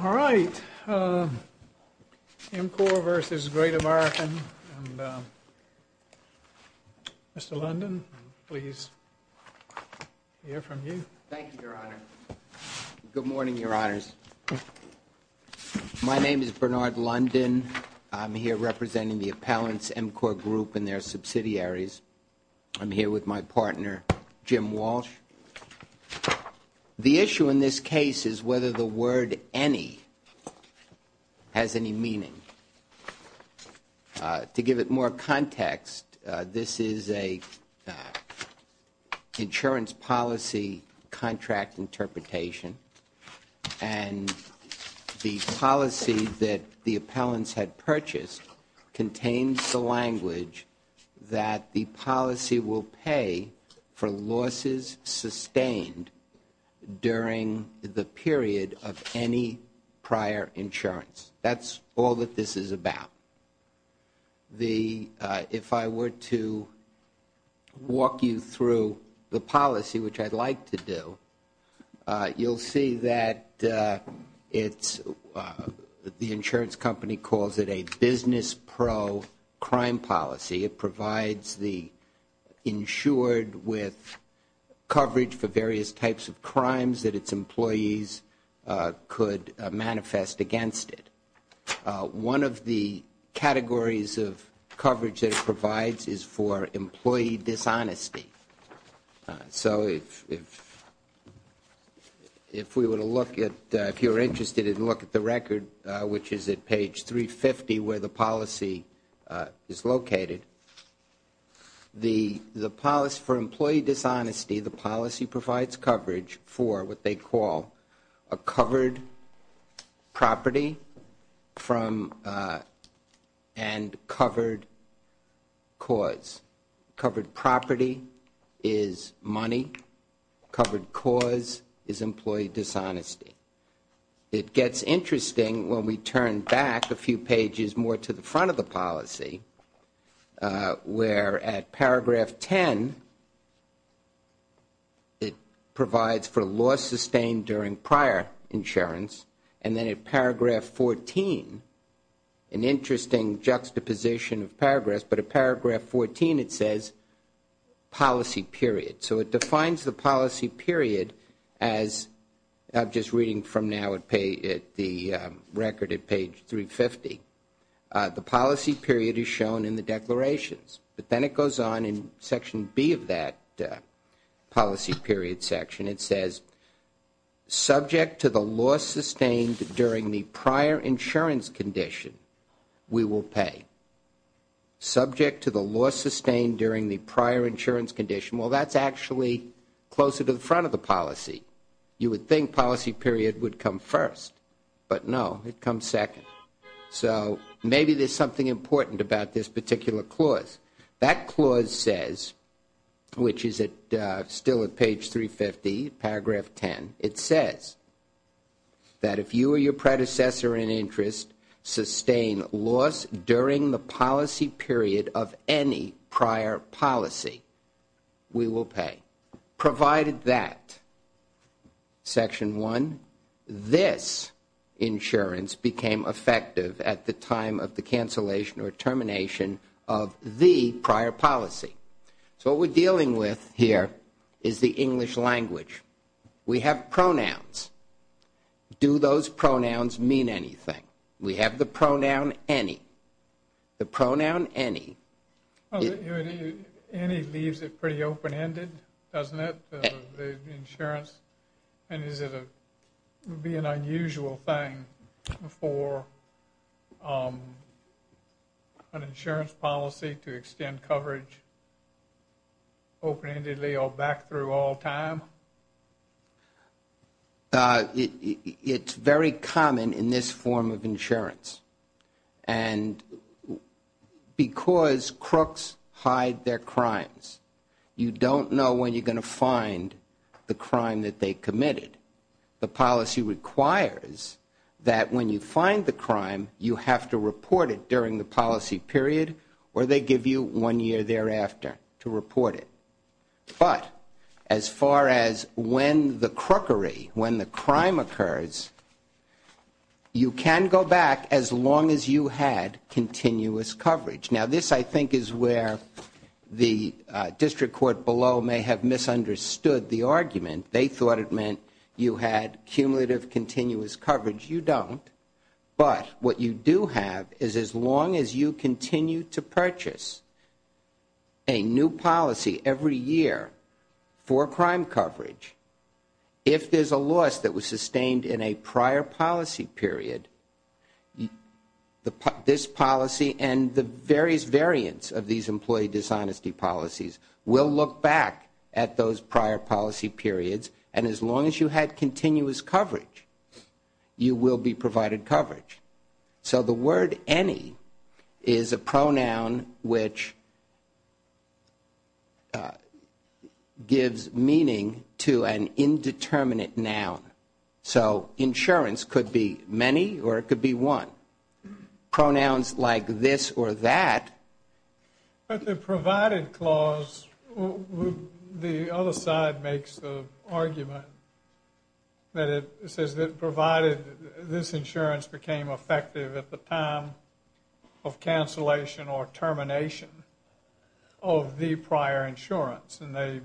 All right, MCOR v. Great American. Mr. London, please, we'll hear from you. Thank you, Your Honor. Good morning, Your Honors. My name is Bernard London. I'm here representing the appellants, MCOR Group and their subsidiaries. I'm here with my partner, Jim Walsh. The issue in this case is whether the word any has any meaning. To give it more context, this is an insurance policy contract interpretation, and the policy that the appellants had purchased contains the language that the policy will pay for losses sustained during the period of any prior insurance. That's all that this is about. If I were to walk you through the policy, which I'd like to do, you'll see that the insurance company calls it a business pro-crime policy. It provides the insured with coverage for various types of crimes that its employees could manifest against it. One of the categories of coverage that it provides is for employee dishonesty. So if we were to look at, if you were interested in looking at the record, which is at page 350 where the policy is located, for employee dishonesty, the policy provides coverage for what they call a covered property and covered cause. Covered property is money. Covered cause is employee dishonesty. It gets interesting when we turn back a few pages more to the front of the policy, where at paragraph 10 it provides for loss sustained during prior insurance, and then at paragraph 14, an interesting juxtaposition of paragraphs, but at paragraph 14 it says policy period. So it defines the policy period as, I'm just reading from now the record at page 350. The policy period is shown in the declarations, but then it goes on in section B of that policy period section. It says subject to the loss sustained during the prior insurance condition, we will pay. Subject to the loss sustained during the prior insurance condition, well, that's actually closer to the front of the policy. You would think policy period would come first, but no, it comes second. So maybe there's something important about this particular clause. That clause says, which is still at page 350, paragraph 10, it says that if you or your predecessor in interest sustain loss during the policy period of any prior policy, we will pay. Provided that, section 1, this insurance became effective at the time of the cancellation or termination of the prior policy. So what we're dealing with here is the English language. We have pronouns. Do those pronouns mean anything? We have the pronoun any. The pronoun any. Any leaves it pretty open-ended, doesn't it, the insurance? And is it be an unusual thing for an insurance policy to extend coverage open-endedly or back through all time? It's very common in this form of insurance. And because crooks hide their crimes, you don't know when you're going to find the crime that they committed. The policy requires that when you find the crime, you have to report it during the policy period or they give you one year thereafter to report it. But as far as when the crookery, when the crime occurs, you can go back as long as you had continuous coverage. Now, this, I think, is where the district court below may have misunderstood the argument. They thought it meant you had cumulative continuous coverage. You don't. But what you do have is as long as you continue to purchase a new policy every year for crime coverage, if there's a loss that was sustained in a prior policy period, this policy and the various variants of these employee dishonesty policies will look back at those prior policy periods. And as long as you had continuous coverage, you will be provided coverage. So the word any is a pronoun which gives meaning to an indeterminate noun. So insurance could be many or it could be one. Pronouns like this or that. But the provided clause, the other side makes the argument that it says that provided this insurance became effective at the time of cancellation or termination of the prior insurance. And they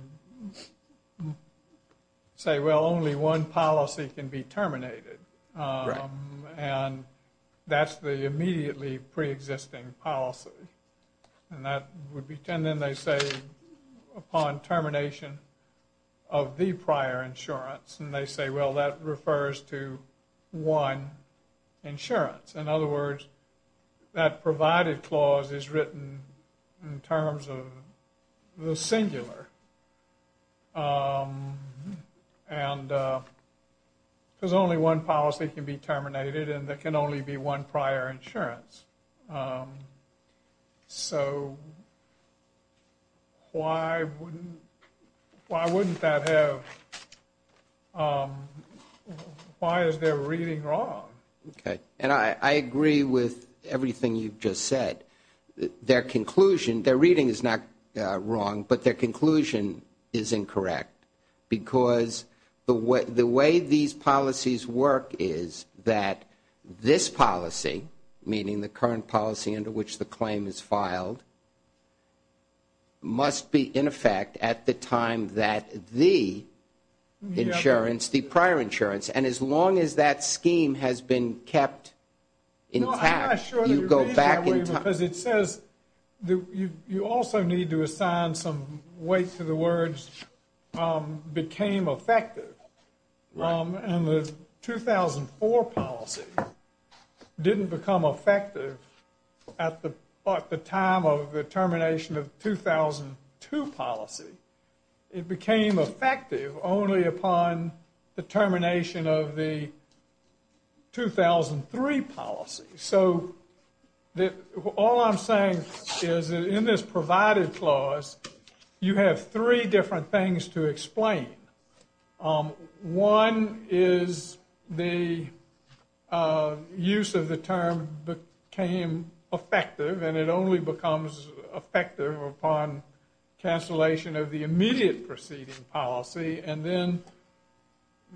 say, well, only one policy can be terminated. And that's the immediately preexisting policy. And that would be. And then they say upon termination of the prior insurance and they say, well, that refers to one insurance. In other words, that provided clause is written in terms of the singular. And. There's only one policy can be terminated and that can only be one prior insurance. So. Why? Why wouldn't that have? Why is their reading wrong? OK, and I agree with everything you've just said. Their conclusion, their reading is not wrong, but their conclusion is incorrect. Because the way the way these policies work is that this policy, meaning the current policy under which the claim is filed. Must be in effect at the time that the insurance, the prior insurance, and as long as that scheme has been kept. In fact, you go back because it says you also need to assign some weight to the words became effective. And the 2004 policy didn't become effective at the time of the termination of 2002 policy. It became effective only upon the termination of the 2003 policy. So all I'm saying is in this provided clause, you have three different things to explain. One is the use of the term became effective and it only becomes effective upon cancellation of the immediate proceeding policy. And then.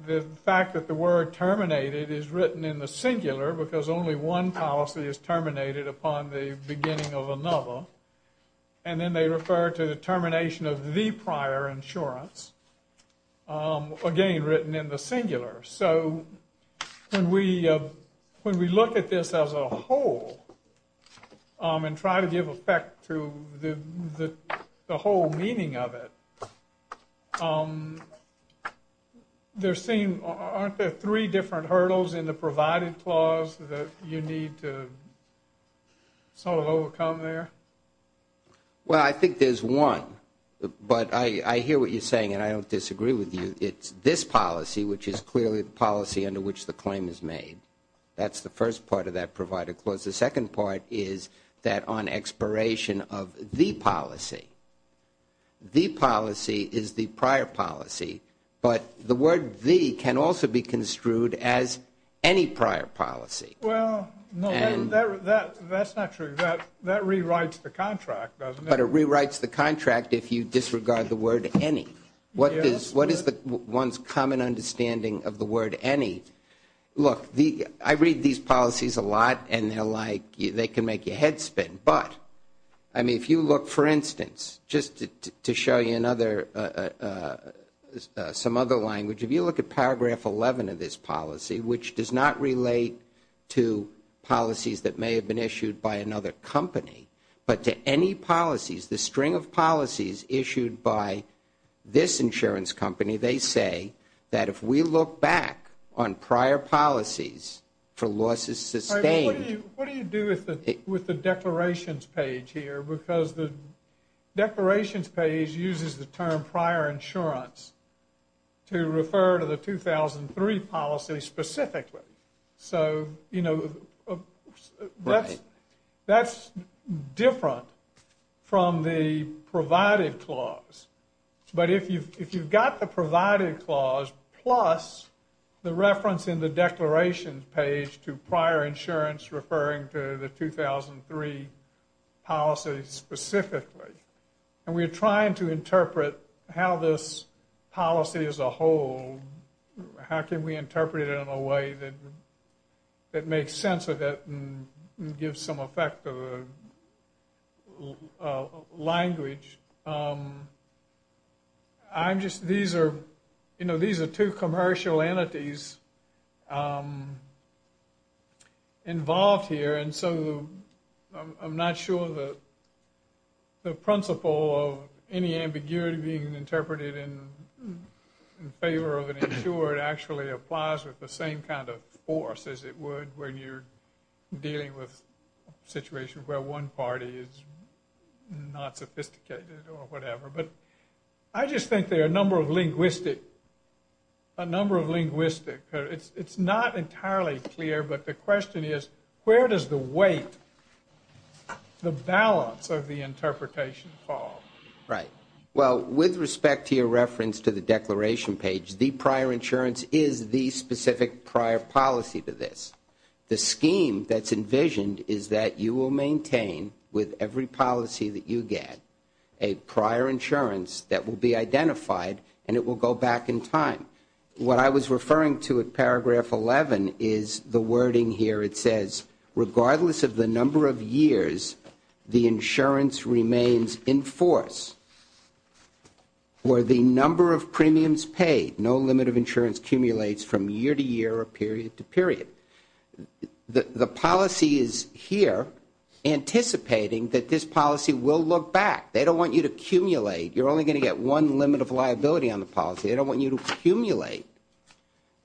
The fact that the word terminated is written in the singular, because only one policy is terminated upon the beginning of another. And then they refer to the termination of the prior insurance. Again, written in the singular. So when we when we look at this as a whole. And try to give effect to the whole meaning of it. They're saying aren't there three different hurdles in the provided clause that you need to sort of overcome there? Well, I think there's one, but I hear what you're saying and I don't disagree with you. It's this policy, which is clearly the policy under which the claim is made. That's the first part of that provided clause. The second part is that on expiration of the policy. The policy is the prior policy, but the word V can also be construed as any prior policy. Well, no, that's not true. That rewrites the contract, but it rewrites the contract. If you disregard the word any. What is what is the one's common understanding of the word? Any. Look, I read these policies a lot and they're like they can make your head spin. But, I mean, if you look, for instance, just to show you another some other language. If you look at paragraph 11 of this policy, which does not relate to policies that may have been issued by another company, but to any policies, the string of policies issued by this insurance company, they say that if we look back on prior policies for losses sustained. What do you do with the declarations page here? Because the declarations page uses the term prior insurance to refer to the 2003 policy specifically. So, you know, that's different from the provided clause. But if you've got the provided clause plus the reference in the declarations page to prior insurance referring to the 2003 policy specifically, and we're trying to interpret how this policy as a whole, how can we interpret it in a way that makes sense of that and gives some effect of a language. I'm just these are, you know, these are two commercial entities involved here. And so I'm not sure that the principle of any ambiguity being interpreted in favor of an insurer actually applies with the same kind of force as it would when you're dealing with a situation where one party is not sophisticated or whatever. But I just think there are a number of linguistic, a number of linguistic. It's not entirely clear. But the question is, where does the weight, the balance of the interpretation fall? Right. Well, with respect to your reference to the declaration page, the prior insurance is the specific prior policy to this. The scheme that's envisioned is that you will maintain with every policy that you get a prior insurance that will be identified and it will go back in time. What I was referring to in paragraph 11 is the wording here. It says regardless of the number of years, the insurance remains in force. Where the number of premiums paid, no limit of insurance accumulates from year to year or period to period. The policy is here anticipating that this policy will look back. They don't want you to accumulate. You're only going to get one limit of liability on the policy. They don't want you to accumulate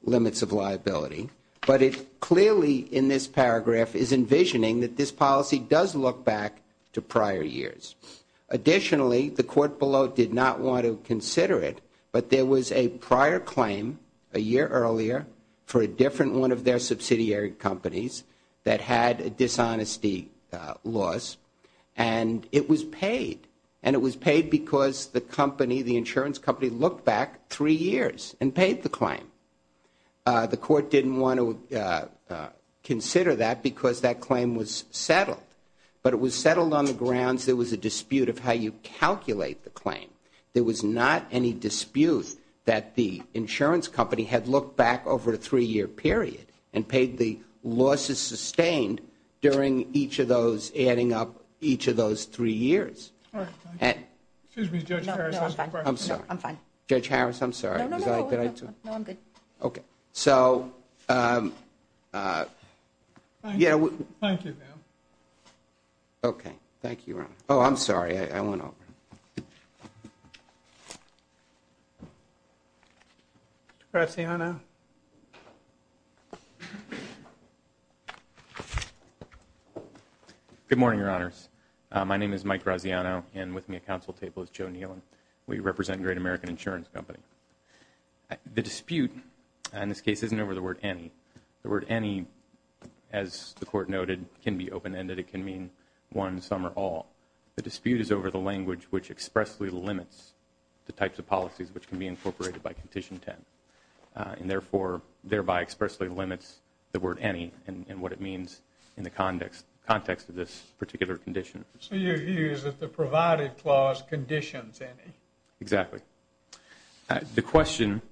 limits of liability. But it clearly in this paragraph is envisioning that this policy does look back to prior years. Additionally, the court below did not want to consider it, but there was a prior claim a year earlier for a different one of their subsidiary companies that had a dishonesty loss. And it was paid. And it was paid because the company, the insurance company, looked back three years and paid the claim. The court didn't want to consider that because that claim was settled. But it was settled on the grounds there was a dispute of how you calculate the claim. There was not any dispute that the insurance company had looked back over a three-year period and paid the losses sustained during each of those adding up each of those three years. Excuse me, Judge Harris. I'm sorry. I'm fine. Judge Harris, I'm sorry. No, I'm good. Okay. So, yeah. Thank you, ma'am. Okay. Thank you, Ron. Oh, I'm sorry. I went over. Mr. Graziano? Good morning, Your Honors. My name is Mike Graziano, and with me at counsel table is Joe Nealon. We represent Great American Insurance Company. The dispute in this case isn't over the word any. The word any, as the court noted, can be open-ended. It can mean one, some, or all. The dispute is over the language which expressly limits the types of policies which can be incorporated by Condition 10 and, therefore, thereby expressly limits the word any and what it means in the context of this particular condition. So your view is that the provided clause conditions any. Exactly. The question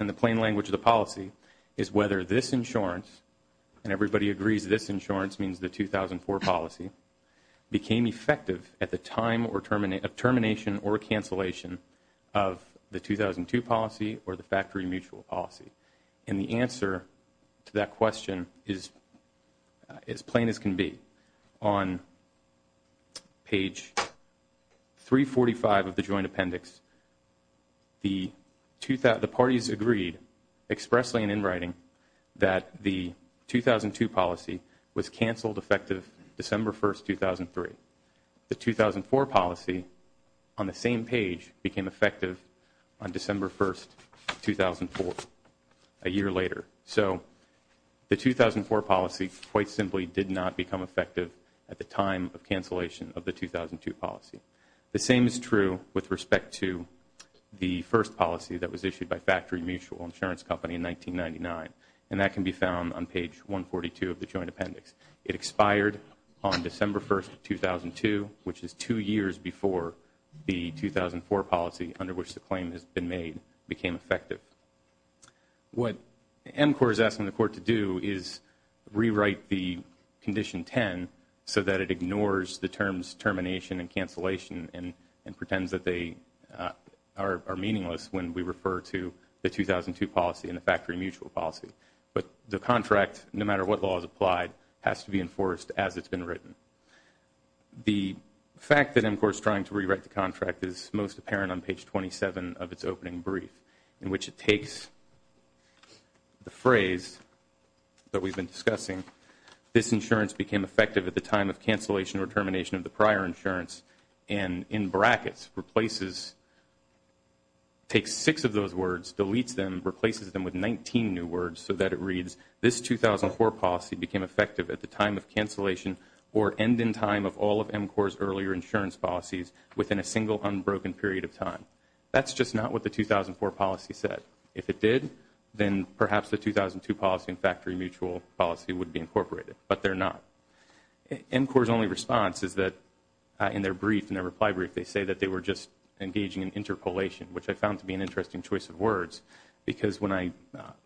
in the plain language of the policy is whether this insurance, and everybody agrees this insurance means the 2004 policy, became effective at the time of termination or cancellation of the 2002 policy or the factory mutual policy. And the answer to that question is as plain as can be. On page 345 of the joint appendix, the parties agreed, expressly and in writing, that the 2002 policy was canceled effective December 1, 2003. The 2004 policy, on the same page, became effective on December 1, 2004, a year later. So the 2004 policy quite simply did not become effective at the time of cancellation of the 2002 policy. The same is true with respect to the first policy that was issued by Factory Mutual Insurance Company in 1999, and that can be found on page 142 of the joint appendix. It expired on December 1, 2002, which is two years before the 2004 policy, under which the claim has been made, became effective. What MCOR is asking the Court to do is rewrite the Condition 10 so that it ignores the terms termination and cancellation and pretends that they are meaningless when we refer to the 2002 policy and the factory mutual policy. But the contract, no matter what law is applied, has to be enforced as it's been written. The fact that MCOR is trying to rewrite the contract is most apparent on page 27 of its opening brief, in which it takes the phrase that we've been discussing, this insurance became effective at the time of cancellation or termination of the prior insurance, and in brackets replaces, takes six of those words, deletes them, replaces them with 19 new words, so that it reads, this 2004 policy became effective at the time of cancellation or end in time of all of MCOR's earlier insurance policies within a single unbroken period of time. That's just not what the 2004 policy said. If it did, then perhaps the 2002 policy and factory mutual policy would be incorporated, but they're not. MCOR's only response is that in their brief, in their reply brief, they say that they were just engaging in interpolation, which I found to be an interesting choice of words, because when I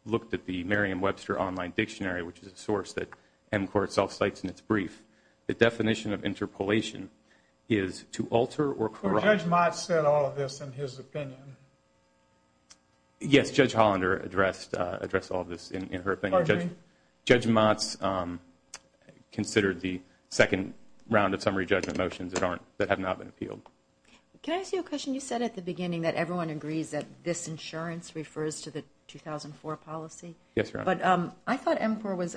looked at the Merriam-Webster Online Dictionary, which is a source that MCOR itself cites in its brief, the definition of interpolation is to alter or correct. Judge Motz said all of this in his opinion. Yes, Judge Hollander addressed all of this in her opinion. Judge Motz considered the second round of summary judgment motions that have not been appealed. Can I ask you a question? You said at the beginning that everyone agrees that this insurance refers to the 2004 policy. Yes, Your Honor. But I thought MCOR was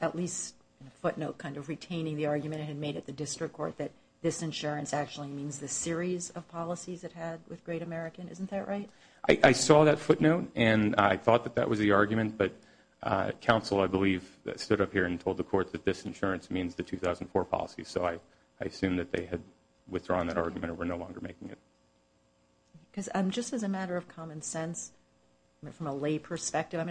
at least in a footnote kind of retaining the argument it had made at the district court that this insurance actually means the series of policies it had with Great American. Isn't that right? I saw that footnote, and I thought that that was the argument. But counsel, I believe, stood up here and told the court that this insurance means the 2004 policy. So I assume that they had withdrawn that argument or were no longer making it. Because just as a matter of common sense, from a lay perspective,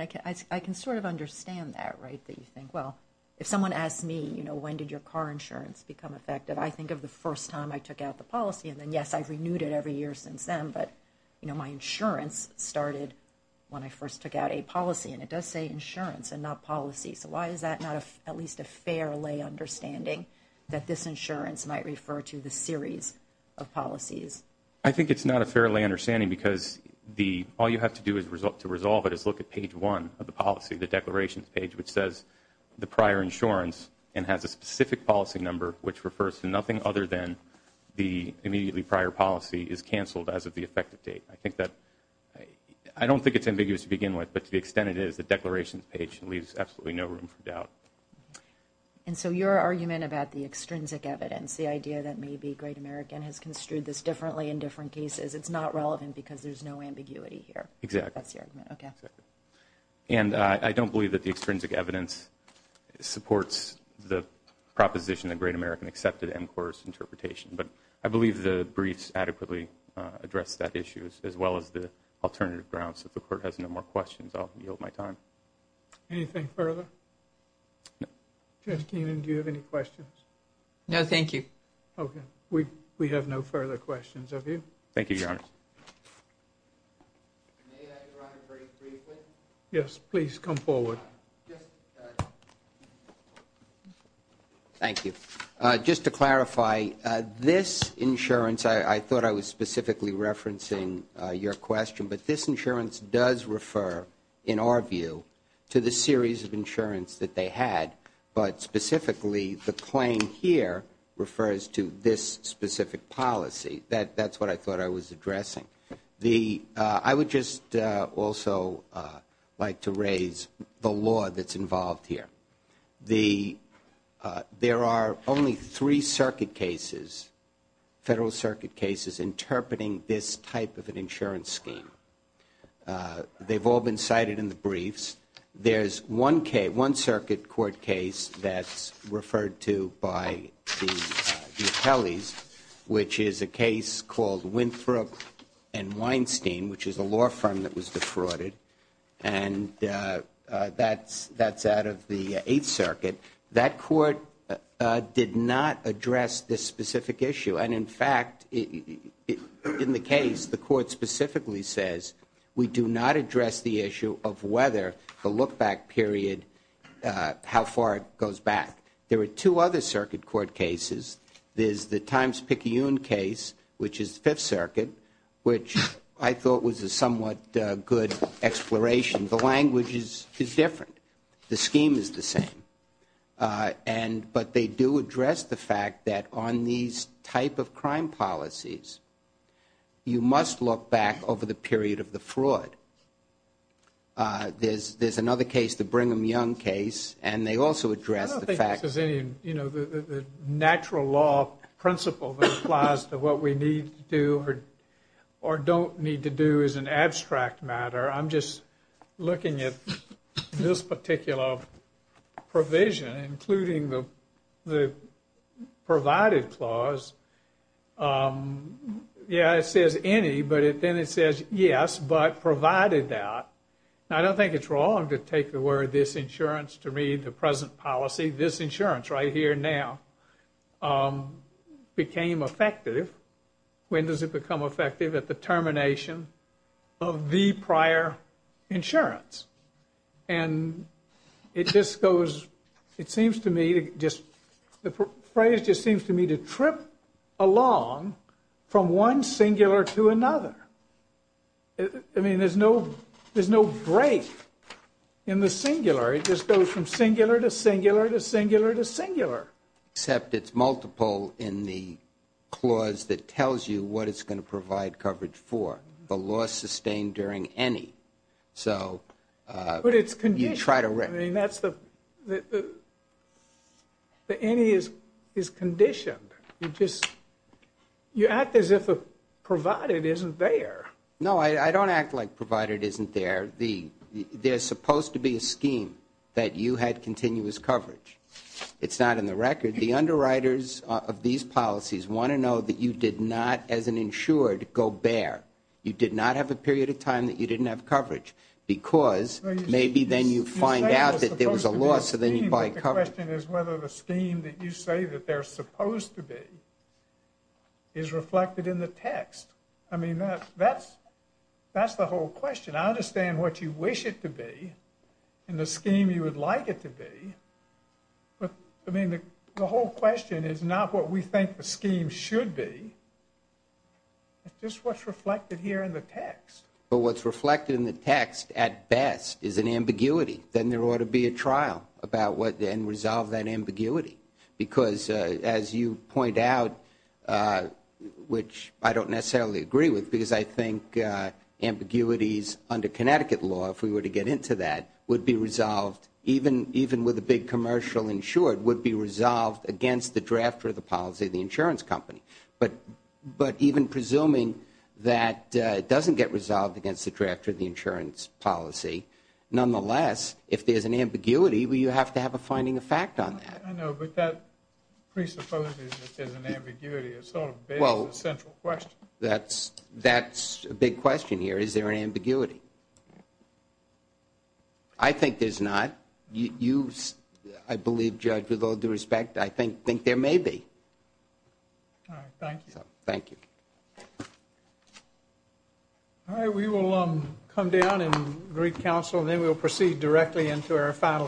I can sort of understand that, right, that you think, well, if someone asks me, you know, when did your car insurance become effective, I think of the first time I took out the policy. And then, yes, I've renewed it every year since then. But, you know, my insurance started when I first took out a policy. And it does say insurance and not policy. So why is that not at least a fair lay understanding that this insurance might refer to the series of policies? I think it's not a fair lay understanding because all you have to do to resolve it is look at page one of the policy, the declarations page, which says the prior insurance and has a specific policy number, which refers to nothing other than the immediately prior policy is canceled as of the effective date. I think that – I don't think it's ambiguous to begin with, but to the extent it is, the declarations page leaves absolutely no room for doubt. And so your argument about the extrinsic evidence, the idea that maybe Great American has construed this differently in different cases, it's not relevant because there's no ambiguity here. Exactly. That's your argument. Okay. And I don't believe that the extrinsic evidence supports the proposition that Great American accepted MCOR's interpretation. But I believe the briefs adequately address that issue as well as the alternative grounds. If the Court has no more questions, I'll yield my time. Anything further? No. Judge Keenan, do you have any questions? No, thank you. Okay. We have no further questions of you. Thank you, Your Honor. May I, Your Honor, very briefly? Yes, please. Come forward. Yes. Thank you. Just to clarify, this insurance, I thought I was specifically referencing your question, but this insurance does refer, in our view, to the series of insurance that they had, but specifically the claim here refers to this specific policy. That's what I thought I was addressing. I would just also like to raise the law that's involved here. There are only three circuit cases, Federal Circuit cases, interpreting this type of an insurance scheme. They've all been cited in the briefs. There's one circuit court case that's referred to by the Kelly's, which is a case called Winthrop and Weinstein, which is a law firm that was defrauded, and that's out of the Eighth Circuit. That court did not address this specific issue, and, in fact, in the case, the court specifically says we do not address the issue of whether the look-back period, how far it goes back. There are two other circuit court cases. There's the Times-Picayune case, which is the Fifth Circuit, which I thought was a somewhat good exploration. The language is different. The scheme is the same. But they do address the fact that on these type of crime policies, you must look back over the period of the fraud. There's another case, the Brigham Young case, and they also address the fact that the natural law principle that applies to what we need to do or don't need to do is an abstract matter. I'm just looking at this particular provision, including the provided clause. Yeah, it says any, but then it says yes, but provided that. Now, I don't think it's wrong to take the word disinsurance to mean the present policy. This insurance right here now became effective. When does it become effective? At the termination of the prior insurance. And it just goes, it seems to me, the phrase just seems to me to trip along from one singular to another. I mean, there's no break in the singular. It just goes from singular to singular to singular to singular. Except it's multiple in the clause that tells you what it's going to provide coverage for. The law sustained during any. But it's conditioned. I mean, that's the any is conditioned. You act as if a provided isn't there. No, I don't act like provided isn't there. There's supposed to be a scheme that you had continuous coverage. It's not in the record. The underwriters of these policies want to know that you did not, as an insured, go bare. You did not have a period of time that you didn't have coverage. Because maybe then you find out that there was a loss, so then you buy coverage. The question is whether the scheme that you say that they're supposed to be is reflected in the text. I mean, that's the whole question. And I understand what you wish it to be and the scheme you would like it to be. I mean, the whole question is not what we think the scheme should be. It's just what's reflected here in the text. But what's reflected in the text, at best, is an ambiguity. Then there ought to be a trial and resolve that ambiguity. Because, as you point out, which I don't necessarily agree with, because I think ambiguities under Connecticut law, if we were to get into that, would be resolved, even with a big commercial insured, would be resolved against the draft of the policy of the insurance company. But even presuming that it doesn't get resolved against the draft of the insurance policy, nonetheless, if there's an ambiguity, you have to have a finding of fact on that. I know, but that presupposes that there's an ambiguity. It's sort of based on the central question. That's a big question here. Is there an ambiguity? I think there's not. You, I believe, Judge, with all due respect, I think there may be. All right. Thank you. Thank you. All right. We will come down and greet counsel, and then we'll proceed directly into our final case.